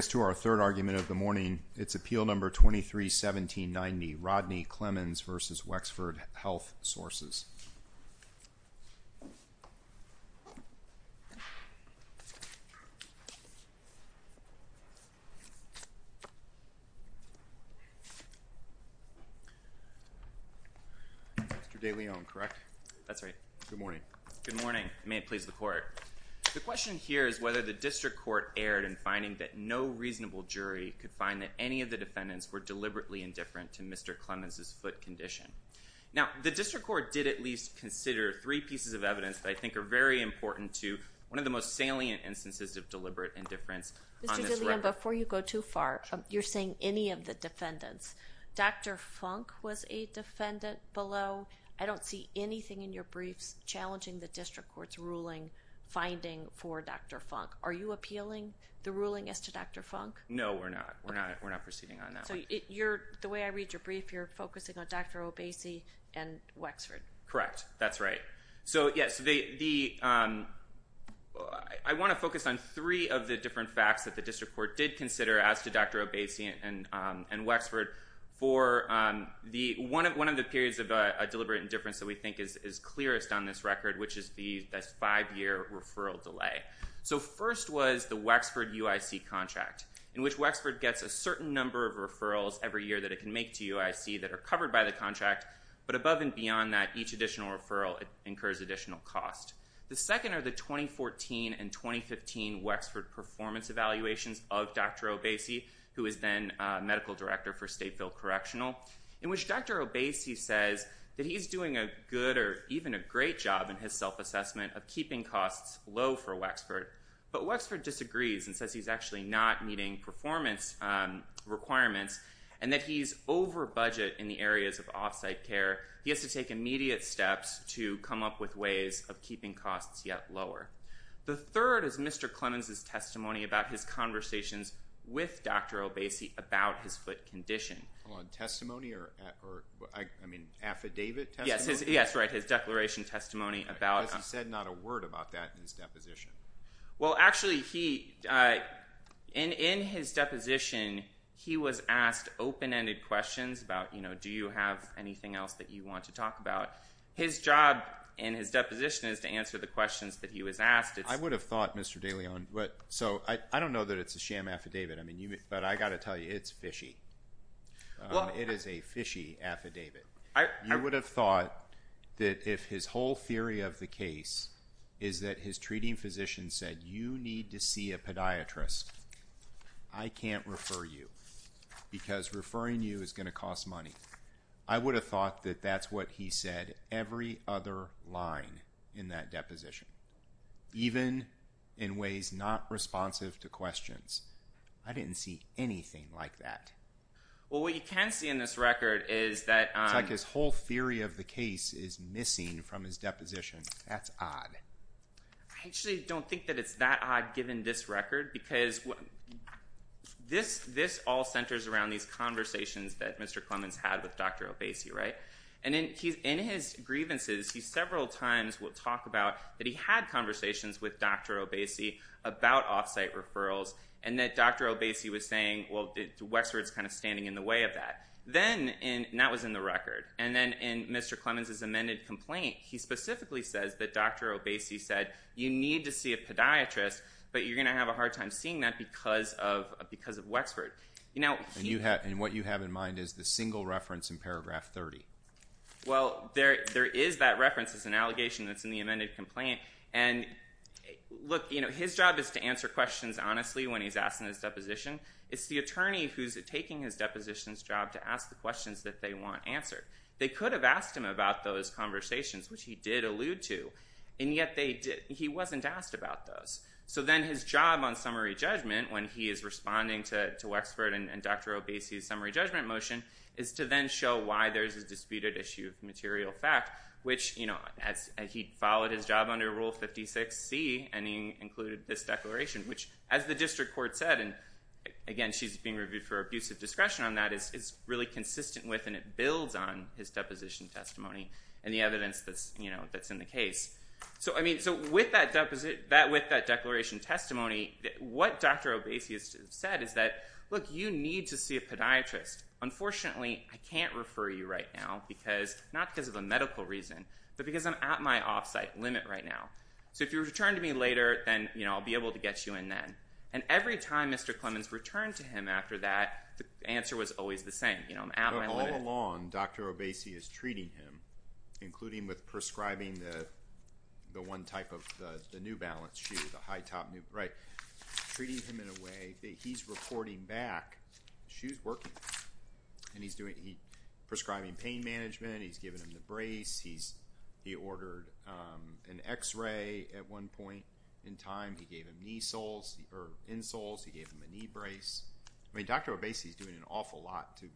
Thanks to our third argument of the morning, it's Appeal No. 23-1790, Rodney Clemons v. Wexford Health Sources. Mr. DeLeon, correct? That's right. Good morning. Good morning. May it please the Court. The question here is whether the District Court erred in finding that no reasonable jury could find that any of the defendants were deliberately indifferent to Mr. Clemons' foot condition. Now, the District Court did at least consider three pieces of evidence that I think are very important to one of the most salient instances of deliberate indifference on this record. Mr. DeLeon, before you go too far, you're saying any of the defendants. Dr. Funk was a defendant below. I don't see anything in your briefs challenging the District Court's ruling finding for Dr. Funk. Are you appealing the ruling as to Dr. Funk? No, we're not. We're not proceeding on that one. So, the way I read your brief, you're focusing on Dr. Obesey and Wexford. Correct. That's right. I want to focus on three of the different facts that the District Court did consider as to Dr. Obesey and Wexford for one of the periods of deliberate indifference that we think is clearest on this record, which is the five-year referral delay. So, first was the Wexford UIC contract, in which Wexford gets a certain number of referrals every year that it can make to UIC that are covered by the contract. But above and beyond that, each additional referral incurs additional cost. The second are the 2014 and 2015 Wexford performance evaluations of Dr. Obesey, who is then Medical Director for Statefield Correctional, in which Dr. Obesey says that he's doing a good or even a great job in his self-assessment of keeping costs low for Wexford. But Wexford disagrees and says he's actually not meeting performance requirements and that he's over budget in the areas of off-site care. He has to take immediate steps to come up with ways of keeping costs yet lower. The third is Mr. Clemens' testimony about his conversations with Dr. Obesey about his foot condition. Hold on. Testimony or, I mean, affidavit testimony? Yes, right. His declaration testimony about... Because he said not a word about that in his deposition. Well, actually, in his deposition, he was asked open-ended questions about, you know, do you have anything else that you want to talk about? His job in his deposition is to answer the questions that he was asked. I would have thought, Mr. DeLeon, so I don't know that it's a sham affidavit, but I got to tell you, it's fishy. It is a fishy affidavit. I would have thought that if his whole theory of the case is that his treating physician said, you need to see a podiatrist, I can't refer you because referring you is going to cost money. I would have thought that that's what he said every other line in that deposition, even in ways not responsive to questions. I didn't see anything like that. Well, what you can see in this record is that... It's like his whole theory of the case is missing from his deposition. That's odd. I actually don't think that it's that odd, given this record, because this all centers around these conversations that Mr. Clemens had with Dr. Obasi, right? And in his grievances, he several times will talk about that he had conversations with Dr. Obasi about off-site referrals, and that Dr. Obasi was saying, well, Wexford's kind of standing in the way of that. And that was in the record. And then in Mr. Clemens' amended complaint, he specifically says that Dr. Obasi said, you need to see a podiatrist, but you're going to have a hard time seeing that because of Wexford. And what you have in mind is the single reference in paragraph 30. Well, there is that reference. It's an allegation that's in the amended complaint. And look, his job is to answer questions honestly when he's asking his deposition. It's the attorney who's taking his deposition's job to ask the questions that they want answered. They could have asked him about those conversations, which he did allude to, and yet he wasn't asked about those. So then his job on summary judgment, when he is responding to Wexford and Dr. Obasi's summary judgment motion, is to then show why there's a disputed issue of material fact, which he followed his job under Rule 56C, and he included this declaration, which, as the district court said, and again, she's being reviewed for abusive discretion on that, is really consistent with and it builds on his deposition testimony and the evidence that's in the case. So with that declaration testimony, what Dr. Obasi has said is that, look, you need to see a podiatrist. Unfortunately, I can't refer you right now because, not because of a medical reason, but because I'm at my off-site limit right now. So if you return to me later, then I'll be able to get you in then. And every time Mr. Clemmons returned to him after that, the answer was always the same. I'm at my limit. But all along, Dr. Obasi is treating him, including with prescribing the one type of the New Balance shoe, the high-top, treating him in a way that he's reporting back, the shoe's working. And he's prescribing pain management. He's giving him the brace. He ordered an x-ray at one point in time. He gave him insoles. He gave him a knee brace. I mean, Dr. Obasi's doing an awful lot to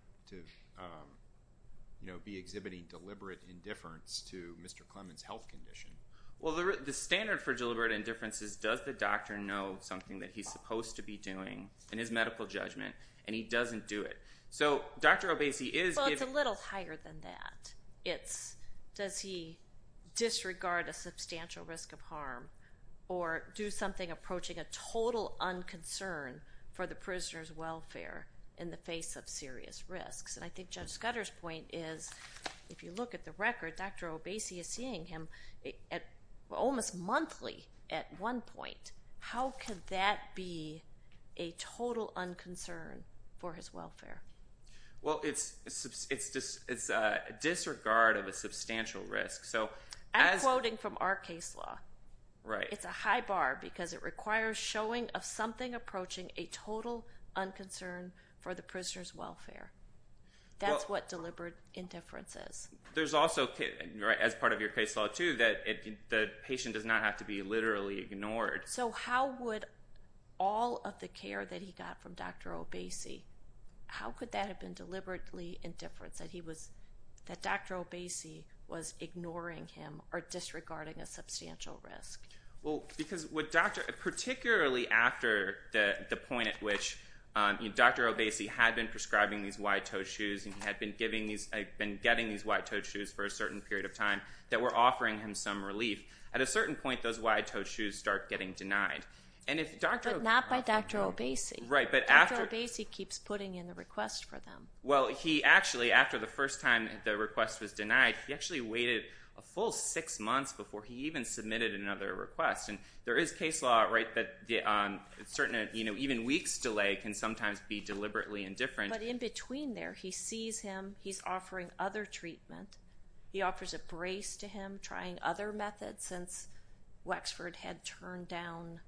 be exhibiting deliberate indifference to Mr. Clemmons' health condition. Well, the standard for deliberate indifference is, does the doctor know something that he's supposed to be doing in his medical judgment? And he doesn't do it. So Dr. Obasi is giving... Well, it's a little higher than that. It's, does he disregard a substantial risk of harm or do something approaching a total unconcern for the prisoner's welfare in the face of serious risks? And I think Judge Scudder's point is, if you look at the record, Dr. Obasi is seeing him almost monthly at one point. How could that be a total unconcern for his welfare? Well, it's a disregard of a substantial risk. I'm quoting from our case law. Right. It's a high bar because it requires showing of something approaching a total unconcern for the prisoner's welfare. That's what deliberate indifference is. There's also, as part of your case law too, that the patient does not have to be literally ignored. So how would all of the care that he got from Dr. Obasi, how could that have been deliberately indifference? That he was, that Dr. Obasi was ignoring him or disregarding a substantial risk? Well, because with Dr., particularly after the point at which Dr. Obasi had been prescribing these wide-toed shoes and he had been giving these, been getting these wide-toed shoes for a certain period of time that were offering him some relief. At a certain point, those wide-toed shoes start getting denied. And if Dr. Obasi... But not by Dr. Obasi. Right, but after... Dr. Obasi keeps putting in a request for them. Well, he actually, after the first time the request was denied, he actually waited a full six months before he even submitted another request. And there is case law, right, that certain, you know, even weeks delay can sometimes be deliberately indifferent. But in between there, he sees him, he's offering other treatment. He offers a brace to him, trying other methods since Wexford had turned down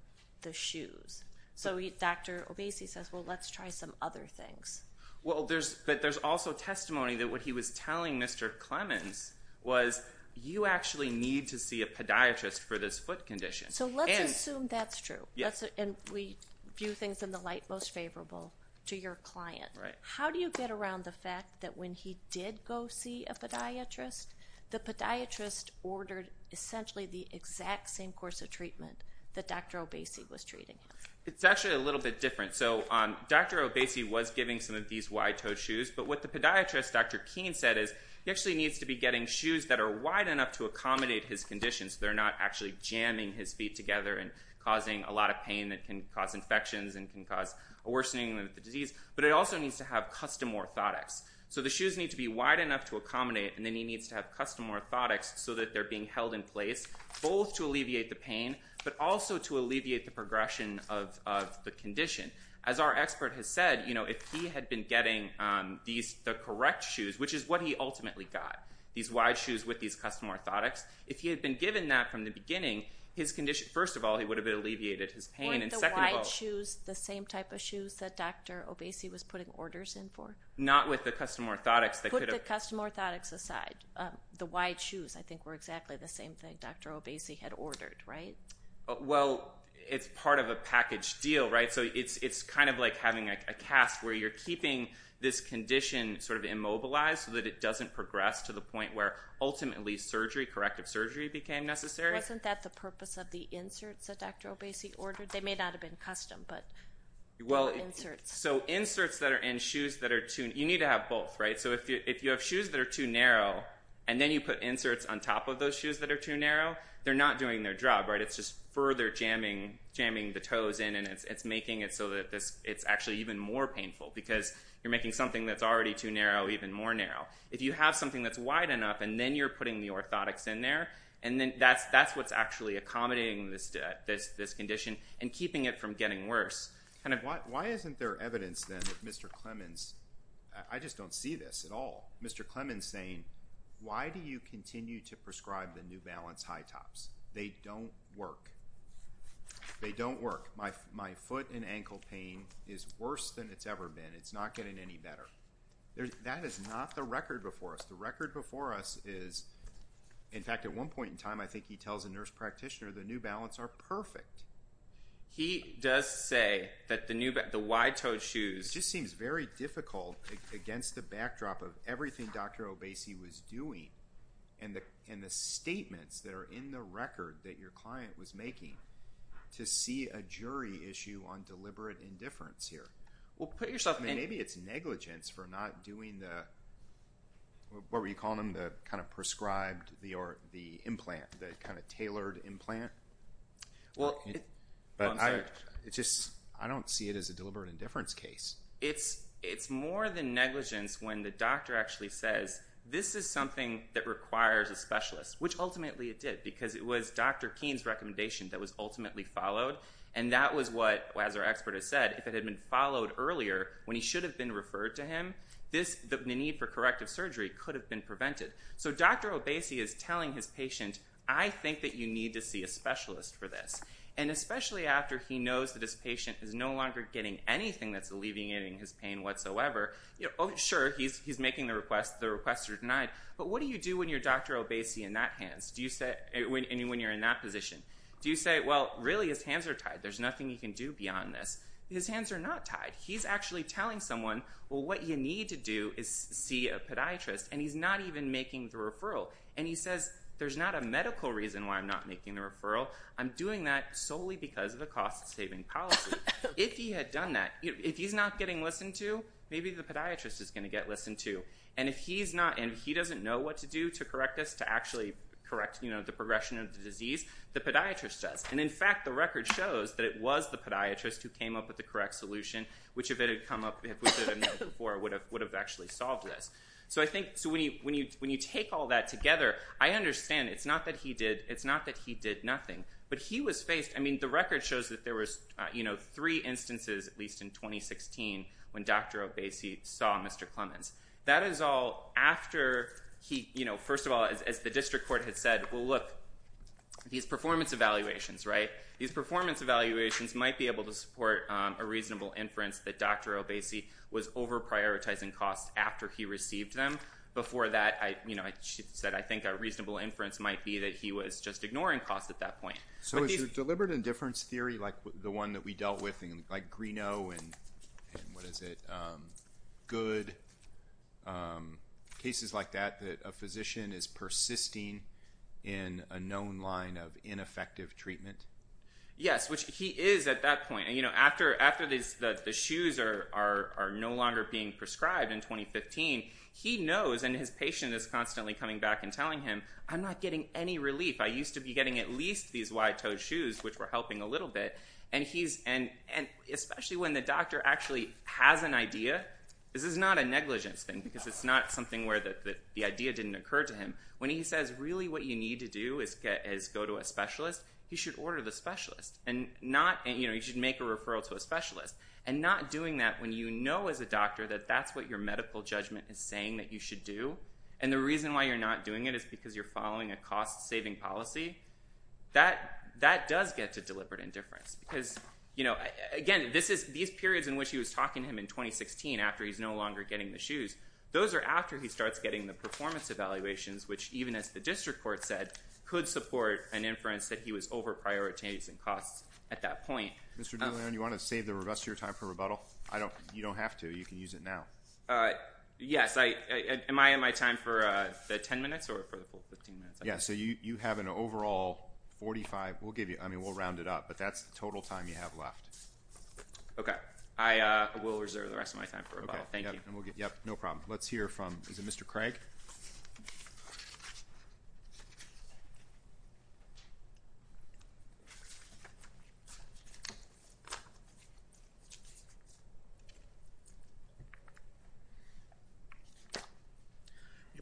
the shoes. So Dr. Obasi says, well, let's try some other things. Well, there's, but there's also testimony that what he was telling Mr. Clemens was, you actually need to see a podiatrist for this foot condition. So let's assume that's true. Yes. And we view things in the light most favorable to your client. Right. How do you get around the fact that when he did go see a podiatrist, the podiatrist ordered essentially the exact same course of treatment that Dr. Obasi was treating him? It's actually a little bit different. So Dr. Obasi was giving some of these wide-toed shoes. But what the podiatrist, Dr. Keene, said is he actually needs to be getting shoes that are wide enough to accommodate his condition. So they're not actually jamming his feet together and causing a lot of pain that can cause infections and can cause a worsening of the disease. But it also needs to have custom orthotics. So the shoes need to be wide enough to accommodate. And then he needs to have custom orthotics so that they're being held in place, both to alleviate the pain, but also to alleviate the progression of the condition. As our expert has said, you know, if he had been getting the correct shoes, which is what he ultimately got, these wide shoes with these custom orthotics, if he had been given that from the beginning, his condition, first of all, he would have alleviated his pain. Weren't the wide shoes the same type of shoes that Dr. Obasi was putting orders in for? Not with the custom orthotics. Put the custom orthotics aside. The wide shoes, I think, were exactly the same thing Dr. Obasi had ordered, right? Well, it's part of a package deal, right? So it's kind of like having a cast where you're keeping this condition sort of immobilized so that it doesn't progress to the point where ultimately surgery, corrective surgery, became necessary. Wasn't that the purpose of the inserts that Dr. Obasi ordered? They may not have been custom, but inserts. So inserts that are in shoes that are too, you need to have both, right? So if you have shoes that are too narrow and then you put inserts on top of those shoes that are too narrow, they're not doing their job, right? It's just further jamming the toes in and it's making it so that it's actually even more painful because you're making something that's already too narrow even more narrow. If you have something that's wide enough and then you're putting the orthotics in there, and then that's what's actually accommodating this condition and keeping it from getting worse. Why isn't there evidence then that Mr. Clemons, I just don't see this at all. Mr. Clemons saying, why do you continue to prescribe the New Balance high tops? They don't work. They don't work. My foot and ankle pain is worse than it's ever been. It's not getting any better. That is not the record before us. The record before us is, in fact, at one point in time, I think he tells a nurse practitioner, the New Balance are perfect. He does say that the wide-toed shoes... It just seems very difficult against the backdrop of everything Dr. Obasi was doing and the statements that are in the record that your client was making to see a jury issue on deliberate indifference here. Well, put yourself in... Maybe it's negligence for not doing the, what were you calling them, the kind of prescribed, the implant, the kind of tailored implant? I don't see it as a deliberate indifference case. It's more than negligence when the doctor actually says, this is something that requires a specialist, which ultimately it did because it was Dr. Keene's recommendation that was ultimately followed. And that was what, as our expert has said, if it had been followed earlier when he should have been referred to him, the need for corrective surgery could have been prevented. So Dr. Obasi is telling his patient, I think that you need to see a specialist for this. And especially after he knows that his patient is no longer getting anything that's alleviating his pain whatsoever. Sure, he's making the request, the request is denied. But what do you do when you're Dr. Obasi in that hands? And when you're in that position? Do you say, well, really his hands are tied. There's nothing he can do beyond this. His hands are not tied. He's actually telling someone, well, what you need to do is see a podiatrist. And he's not even making the referral. And he says, there's not a medical reason why I'm not making the referral. I'm doing that solely because of a cost-saving policy. If he had done that, if he's not getting listened to, maybe the podiatrist is going to get listened to. And if he's not, and he doesn't know what to do to correct this, to actually correct the progression of the disease, the podiatrist does. And in fact, the record shows that it was the podiatrist who came up with the correct solution. Which if it had come up, if we had done that before, would have actually solved this. So I think, when you take all that together, I understand it's not that he did nothing. But he was faced, I mean, the record shows that there was three instances, at least in 2016, when Dr. Obasi saw Mr. Clemens. That is all after he, you know, first of all, as the district court had said, well look, these performance evaluations, right? These performance evaluations might be able to support a reasonable inference that Dr. Obasi was over-prioritizing costs after he received them. Before that, you know, I said I think a reasonable inference might be that he was just ignoring costs at that point. So is your deliberate indifference theory, like the one that we dealt with, like Greenough, and what is it, good cases like that, that a physician is persisting in a known line of ineffective treatment? Yes, which he is at that point. You know, after the shoes are no longer being prescribed in 2015, he knows, and his patient is constantly coming back and telling him, I'm not getting any relief. I used to be getting at least these wide-toed shoes, which were helping a little bit. And he's, and especially when the doctor actually has an idea, this is not a negligence thing, because it's not something where the idea didn't occur to him. When he says really what you need to do is go to a specialist, you should order the specialist. And not, you know, you should make a referral to a specialist. And not doing that when you know as a doctor that that's what your medical judgment is saying that you should do, and the reason why you're not doing it is because you're following a cost-saving policy, that does get to deliberate indifference. Because, you know, again, these periods in which he was talking to him in 2016, after he's no longer getting the shoes, those are after he starts getting the performance evaluations, which even as the district court said, could support an inference that he was over-prioritizing costs at that point. Mr. De Leon, you want to save the rest of your time for rebuttal? You don't have to. You can use it now. Yes. Am I in my time for the 10 minutes or for the full 15 minutes? Yeah. So you have an overall 45. We'll give you, I mean, we'll round it up, but that's the total time you have left. Okay. I will reserve the rest of my time for rebuttal. Thank you. Yep. No problem. Let's hear from, is it Mr. Craig?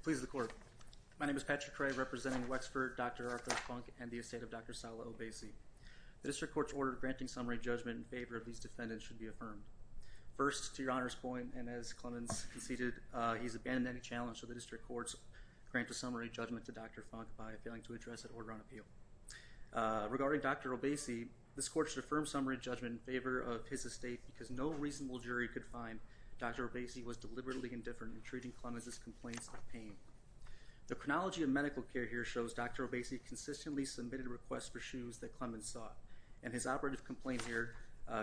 Please, the court. My name is Patrick Craig, representing Wexford, Dr. Arthur Funk, and the estate of Dr. Sala Obeisi. The district court's order granting summary judgment in favor of these defendants should be affirmed. First, to your Honor's point, and as Clemens conceded, he's abandoned any challenge to the district court's grant of summary judgment to Dr. Funk by failing to address an order on appeal. Regarding Dr. Obeisi, this court should affirm summary judgment in favor of his estate because no reasonable jury could find Dr. Obeisi was deliberately indifferent in treating Clemens' complaints of pain. The chronology of medical care here shows Dr. Obeisi consistently submitted requests for shoes that Clemens sought, and his operative complaint here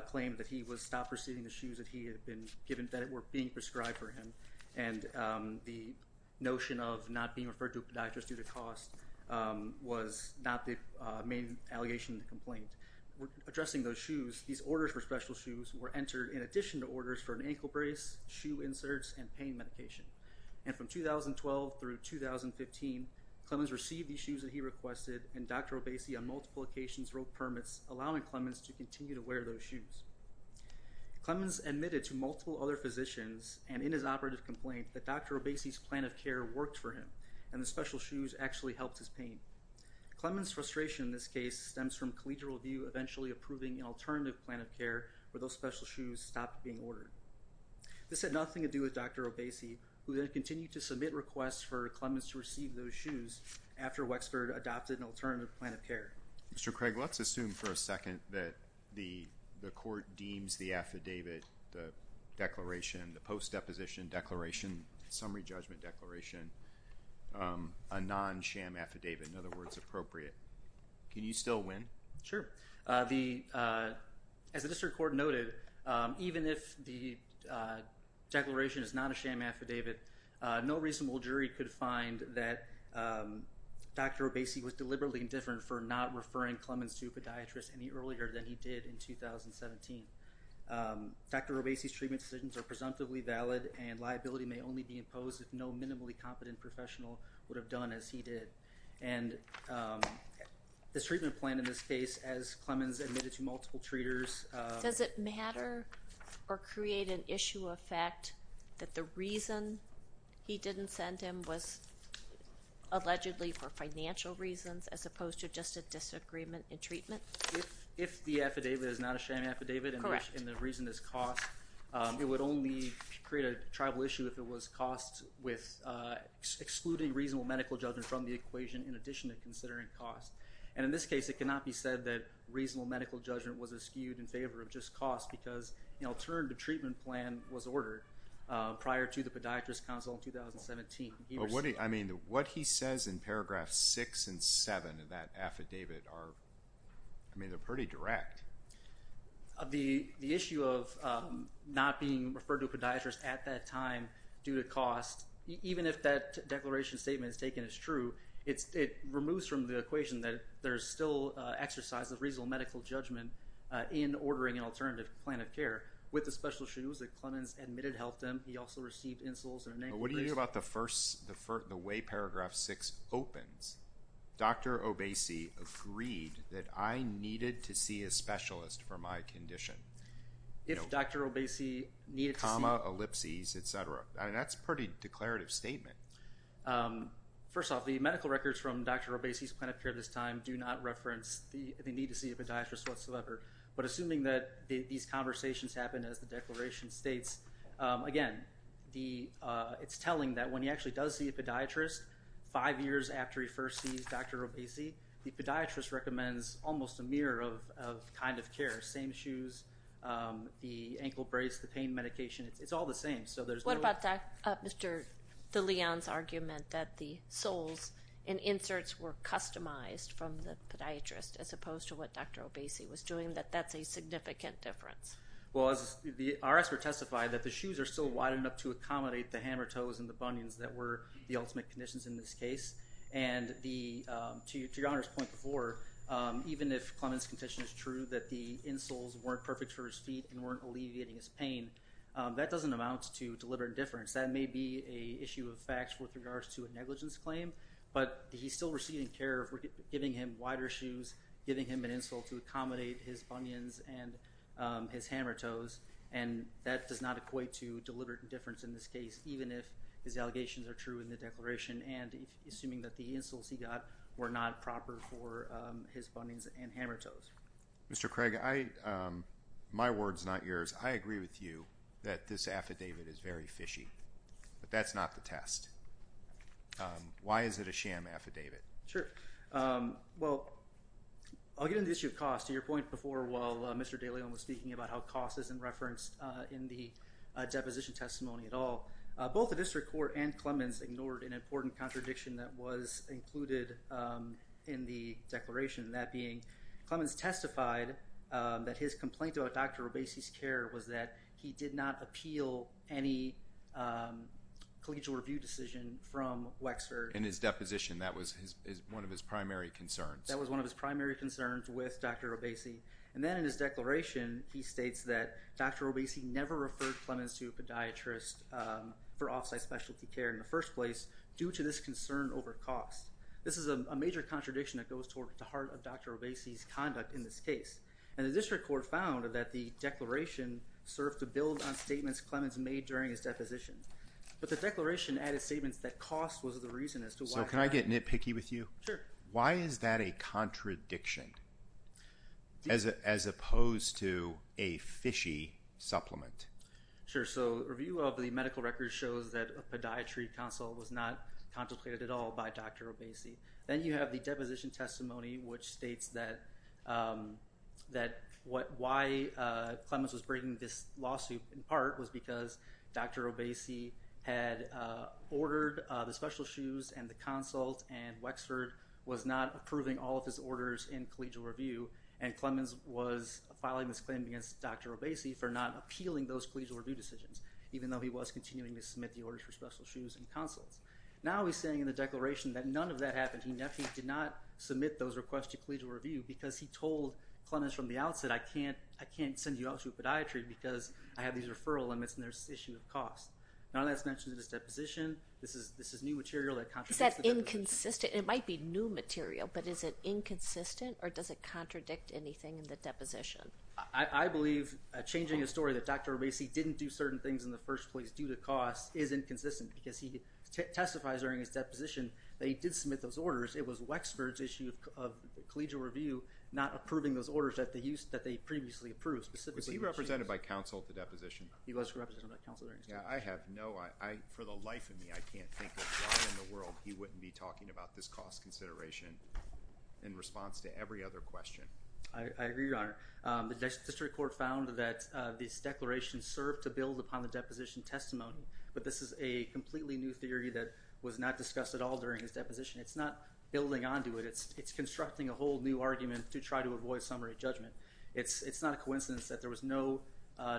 claimed that he was stopped receiving the shoes that he had been given, that were being prescribed for him, and the shoes were not the main allegation in the complaint. Addressing those shoes, these orders for special shoes were entered in addition to orders for an ankle brace, shoe inserts, and pain medication. And from 2012 through 2015, Clemens received the shoes that he requested, and Dr. Obeisi on multiple occasions wrote permits, allowing Clemens to continue to wear those shoes. Clemens admitted to multiple other physicians, and in his operative complaint, that Dr. Obeisi's plan of care worked for him, and the special shoes actually helped his pain. Clemens' frustration in this case stems from Collegial Review eventually approving an alternative plan of care where those special shoes stopped being ordered. This had nothing to do with Dr. Obeisi, who then continued to submit requests for Clemens to receive those shoes after Wexford adopted an alternative plan of care. Mr. Craig, let's assume for a second that the court deems the affidavit, the declaration, the post-deposition declaration, summary judgment declaration, a non-SHAM affidavit. In other words, appropriate. Can you still win? Sure. As the district court noted, even if the declaration is not a SHAM affidavit, no reasonable jury could find that Dr. Obeisi was deliberately indifferent for not referring Clemens to a podiatrist any earlier than he did in 2017. Dr. Obeisi's treatment decisions are presumptively valid and liability may only be imposed if no minimally competent professional would have done as he did. And this treatment plan in this case, as Clemens admitted to multiple treaters— Does it matter or create an issue of fact that the reason he didn't send him was allegedly for financial reasons as opposed to just a disagreement in treatment? If the affidavit is not a SHAM affidavit and the reason is cost, it would only create a tribal issue if it was cost with excluding reasonable medical judgment from the equation in addition to considering cost. And in this case, it cannot be said that reasonable medical judgment was eschewed in favor of just cost because, in turn, the treatment plan was ordered prior to the podiatrist counsel in 2017. What he says in paragraphs 6 and 7 of that affidavit are pretty direct. The issue of not being referred to a podiatrist at that time due to cost, even if that declaration statement is taken as true, it removes from the equation that there is still exercise of reasonable medical judgment in ordering an alternative plan of care with the special issues that Clemens admitted helped him. He also received insults and anger. But what do you think about the way paragraph 6 opens? Dr. Obese agreed that I needed to see a specialist for my condition. If Dr. Obese needed to see... Comma, ellipses, et cetera. That's a pretty declarative statement. First off, the medical records from Dr. Obese's plan of care at this time do not reference the need to see a podiatrist whatsoever. But assuming that these conversations happen as the declaration states, again, it's telling that when he actually does see a podiatrist, five years after he first sees Dr. Obese, the podiatrist recommends almost a mirror of kind of care, same shoes, the ankle brace, the pain medication. It's all the same. So there's no... What about that, Mr. DeLeon's argument that the soles and inserts were customized from the podiatrist as opposed to what Dr. Obese was doing, that that's a significant difference? Well, our experts testified that the shoes are still wide enough to accommodate the hammer toes and the bunions that were the ultimate conditions in this case. And to your Honor's point before, even if Clement's condition is true, that the insoles weren't perfect for his feet and weren't alleviating his pain, that doesn't amount to deliberate indifference. That may be an issue of facts with regards to a negligence claim, but he's still receiving care of giving him wider shoes, giving him an insole to accommodate his bunions and his hammer toes, and that does not equate to deliberate indifference in this case, even if his allegations are true in the declaration and assuming that the insoles he got were not proper for his bunions and hammer toes. Mr. Craig, my word's not yours. I agree with you that this affidavit is very fishy, but that's not the test. Why is it a sham affidavit? Sure. Well, I'll get into the issue of cost. To your point before, while Mr. Dalyan was speaking about how cost isn't referenced in the deposition testimony at all, both the district court and Clements ignored an important contradiction that was included in the declaration, that being Clements testified that his complaint In his deposition. That was one of his primary concerns. That was one of his primary concerns with Dr. Obese, and then in his declaration, he states that Dr. Obese never referred Clements to a podiatrist for off-site specialty care in the first place due to this concern over cost. This is a major contradiction that goes toward the heart of Dr. Obese's conduct in this case, and the district court found that the declaration served to build on statements Clements made during his deposition, but the declaration added statements that cost was the reason as to why. So, can I get nitpicky with you? Sure. Why is that a contradiction as opposed to a fishy supplement? Sure. So, review of the medical records shows that a podiatry consult was not contemplated at all by Dr. Obese. Then you have the deposition testimony, which states that why Clements was bringing this up was because Dr. Obese had ordered the special shoes and the consult, and Wexford was not approving all of his orders in collegial review, and Clements was filing this claim against Dr. Obese for not appealing those collegial review decisions, even though he was continuing to submit the orders for special shoes and consults. Now he's saying in the declaration that none of that happened. He definitely did not submit those requests to collegial review because he told Clements from the outset, I can't send you out to a podiatry because I have these referral limits and there's this issue of cost. None of that's mentioned in his deposition. This is new material that contradicts the deposition. Is that inconsistent? It might be new material, but is it inconsistent or does it contradict anything in the deposition? I believe changing a story that Dr. Obese didn't do certain things in the first place due to cost is inconsistent because he testifies during his deposition that he did submit those orders. It was Wexford's issue of collegial review not approving those orders that they previously approved. Was he represented by counsel at the deposition? He was represented by counsel. I have no, for the life of me, I can't think of why in the world he wouldn't be talking about this cost consideration in response to every other question. I agree, Your Honor. The district court found that this declaration served to build upon the deposition testimony, but this is a completely new theory that was not discussed at all during his deposition. It's not building onto it. It's constructing a whole new argument to try to avoid summary judgment. It's not a coincidence that there was no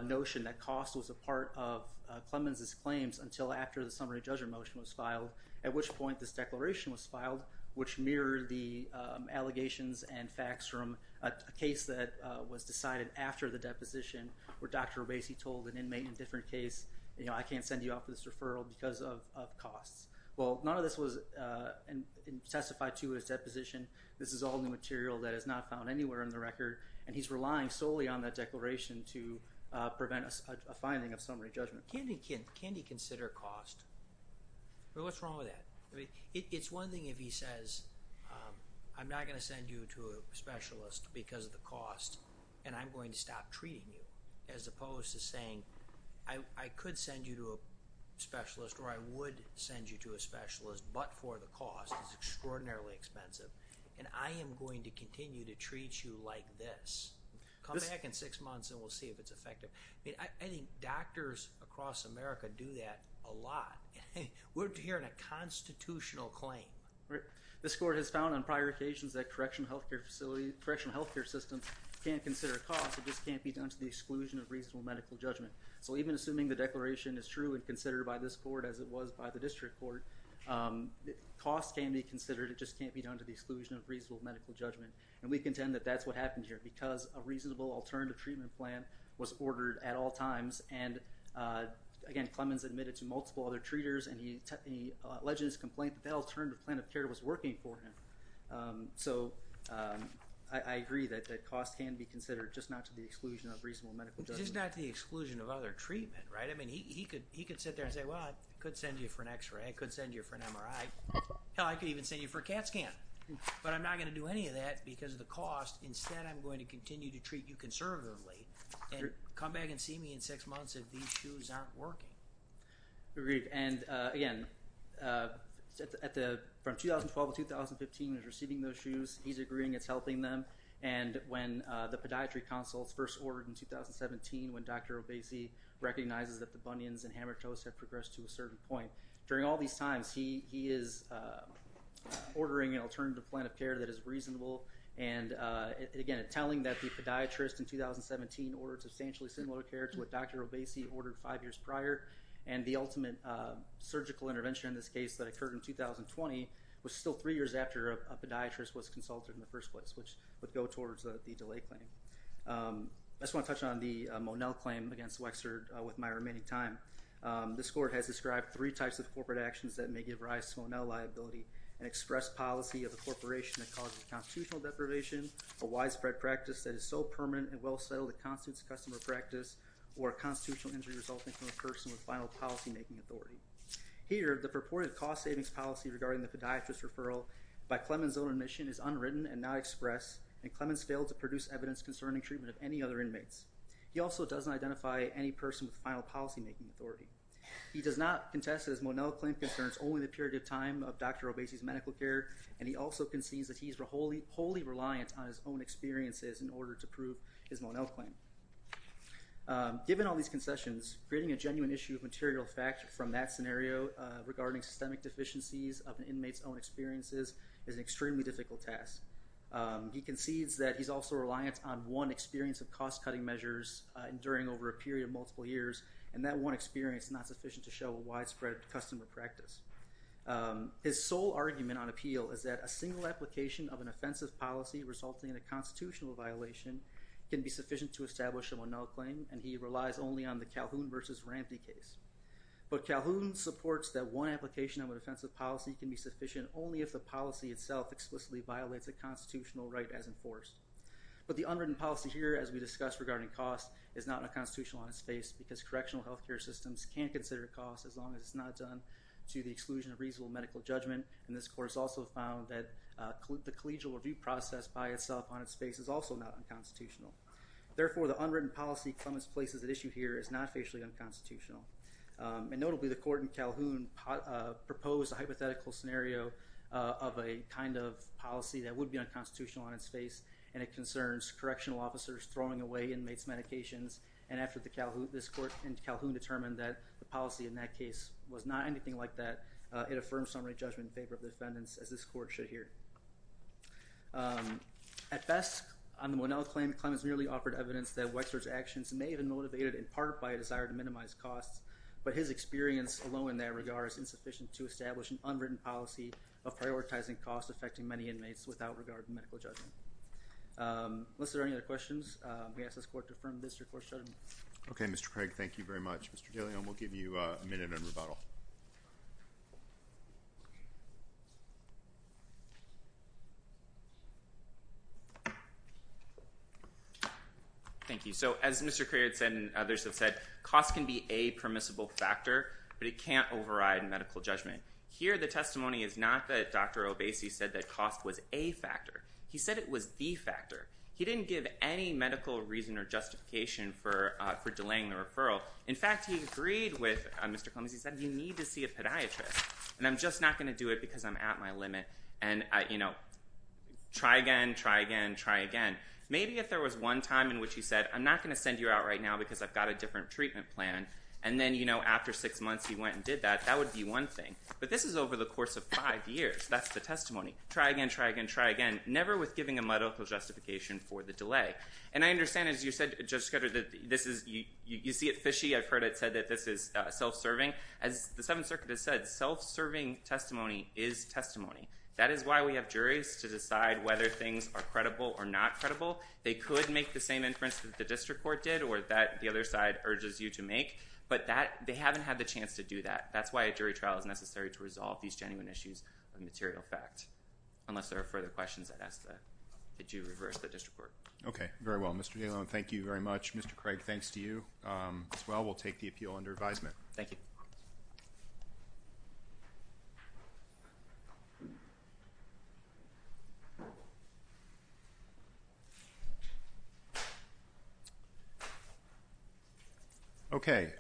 notion that cost was a part of Clemens' claims until after the summary judgment motion was filed, at which point this declaration was filed, which mirrored the allegations and facts from a case that was decided after the deposition where Dr. Obese told an inmate in a different case, I can't send you out for this referral because of costs. Well, none of this was testified to his deposition. This is all new material that is not found anywhere in the record, and he's relying solely on that declaration to prevent a finding of summary judgment. Can he consider cost? What's wrong with that? It's one thing if he says, I'm not going to send you to a specialist because of the cost, and I'm going to stop treating you, as opposed to saying, I could send you to a specialist or I would send you to a specialist, but for the cost. It's extraordinarily expensive, and I am going to continue to treat you like this. Come back in six months and we'll see if it's effective. I think doctors across America do that a lot. We're hearing a constitutional claim. This court has found on prior occasions that correctional health care systems can't consider cost, it just can't be done to the exclusion of reasonable medical judgment. Even assuming the declaration is true and considered by this court as it was by the district court, cost can be considered, it just can't be done to the exclusion of reasonable medical judgment. We contend that that's what happened here, because a reasonable alternative treatment plan was ordered at all times. Again, Clemens admitted to multiple other treaters, and he alleged in his complaint that that alternative plan of care was working for him. I agree that cost can be considered, just not to the exclusion of reasonable medical judgment. Just not to the exclusion of other treatment, right? I mean, he could sit there and say, well, I could send you for an X-ray, I could send you for an MRI, hell, I could even send you for a CAT scan, but I'm not going to do any of that because of the cost. Instead, I'm going to continue to treat you conservatively, and come back and see me in six months if these shoes aren't working. Agreed, and again, from 2012 to 2015, he was receiving those shoes. He's agreeing it's helping them. When the podiatry consults first ordered in 2017, when Dr. Obese recognizes that the bunions and hammer toes have progressed to a certain point, during all these times, he is ordering an alternative plan of care that is reasonable, and again, telling that the podiatrist in 2017 ordered substantially similar care to what Dr. Obese ordered five years prior, and the ultimate surgical intervention in this case that occurred in 2020 was still three years before the podiatrist was consulted in the first place, which would go towards the delay claim. I just want to touch on the Monell claim against Wexford with my remaining time. This court has described three types of corporate actions that may give rise to Monell liability, an express policy of a corporation that causes constitutional deprivation, a widespread practice that is so permanent and well settled, it constitutes customer practice, or a constitutional injury resulting from a person with final policymaking authority. Here, the purported cost savings policy regarding the podiatrist referral by Clemens' own admission is unwritten and not expressed, and Clemens failed to produce evidence concerning treatment of any other inmates. He also doesn't identify any person with final policymaking authority. He does not contest that his Monell claim concerns only the period of time of Dr. Obese's medical care, and he also concedes that he is wholly reliant on his own experiences in order to prove his Monell claim. Given all these concessions, creating a genuine issue of material fact from that scenario regarding systemic deficiencies of an inmate's own experiences is an extremely difficult task. He concedes that he's also reliant on one experience of cost-cutting measures during over a period of multiple years, and that one experience is not sufficient to show a widespread customer practice. His sole argument on appeal is that a single application of an offensive policy resulting in a constitutional violation can be sufficient to establish a Monell claim, and he relies only on the Calhoun versus Rampey case. But Calhoun supports that one application of an offensive policy can be sufficient only if the policy itself explicitly violates a constitutional right as enforced. But the unwritten policy here, as we discussed regarding cost, is not a constitutional on its face because correctional health care systems can't consider cost as long as it's not done to the exclusion of reasonable medical judgment, and this court has also found that the collegial review process by itself on its face is also not unconstitutional. Therefore, the unwritten policy from its place as an issue here is not facially unconstitutional. And notably, the court in Calhoun proposed a hypothetical scenario of a kind of policy that would be unconstitutional on its face, and it concerns correctional officers throwing away inmates' medications, and after this court in Calhoun determined that the policy in that case was not anything like that, it affirms summary judgment in favor of the defendants as this court should hear. At best, on the Monell claim, Clemens merely offered evidence that Wexler's actions may have been motivated in part by a desire to minimize costs, but his experience alone in that regard is insufficient to establish an unwritten policy of prioritizing cost affecting many inmates without regard to medical judgment. Unless there are any other questions, we ask this court to affirm this recourse judgment. Okay, Mr. Craig, thank you very much. Mr. De Leon, we'll give you a minute in rebuttal. Thank you. So, as Mr. Craig had said and others have said, cost can be a permissible factor, but it can't override medical judgment. Here the testimony is not that Dr. Obese said that cost was a factor. He said it was the factor. He didn't give any medical reason or justification for delaying the referral. In fact, he agreed with Mr. Clemens. He said, you need to see a podiatrist, and I'm just not going to do it because I'm at my limit. And, you know, try again, try again, try again. Maybe if there was one time in which he said, I'm not going to send you out right now because I've got a different treatment plan, and then, you know, after six months he went and did that, that would be one thing. But this is over the course of five years. That's the testimony. Try again, try again, try again, never with giving a medical justification for the delay. And I understand, as you said, Judge Scudder, that this is, you see it fishy. I've heard it said that this is self-serving. As the Seventh Circuit has said, self-serving testimony is testimony. That is why we have juries to decide whether things are credible or not credible. They could make the same inference that the district court did or that the other side urges you to make, but that, they haven't had the chance to do that. That's why a jury trial is necessary to resolve these genuine issues of material fact. Unless there are further questions, I'd ask that you reverse the district court. Okay. Very well. Mr. Dalen, thank you very much. Mr. Craig, thanks to you as well. We'll take the appeal under advisement. Thank you. Okay. All right.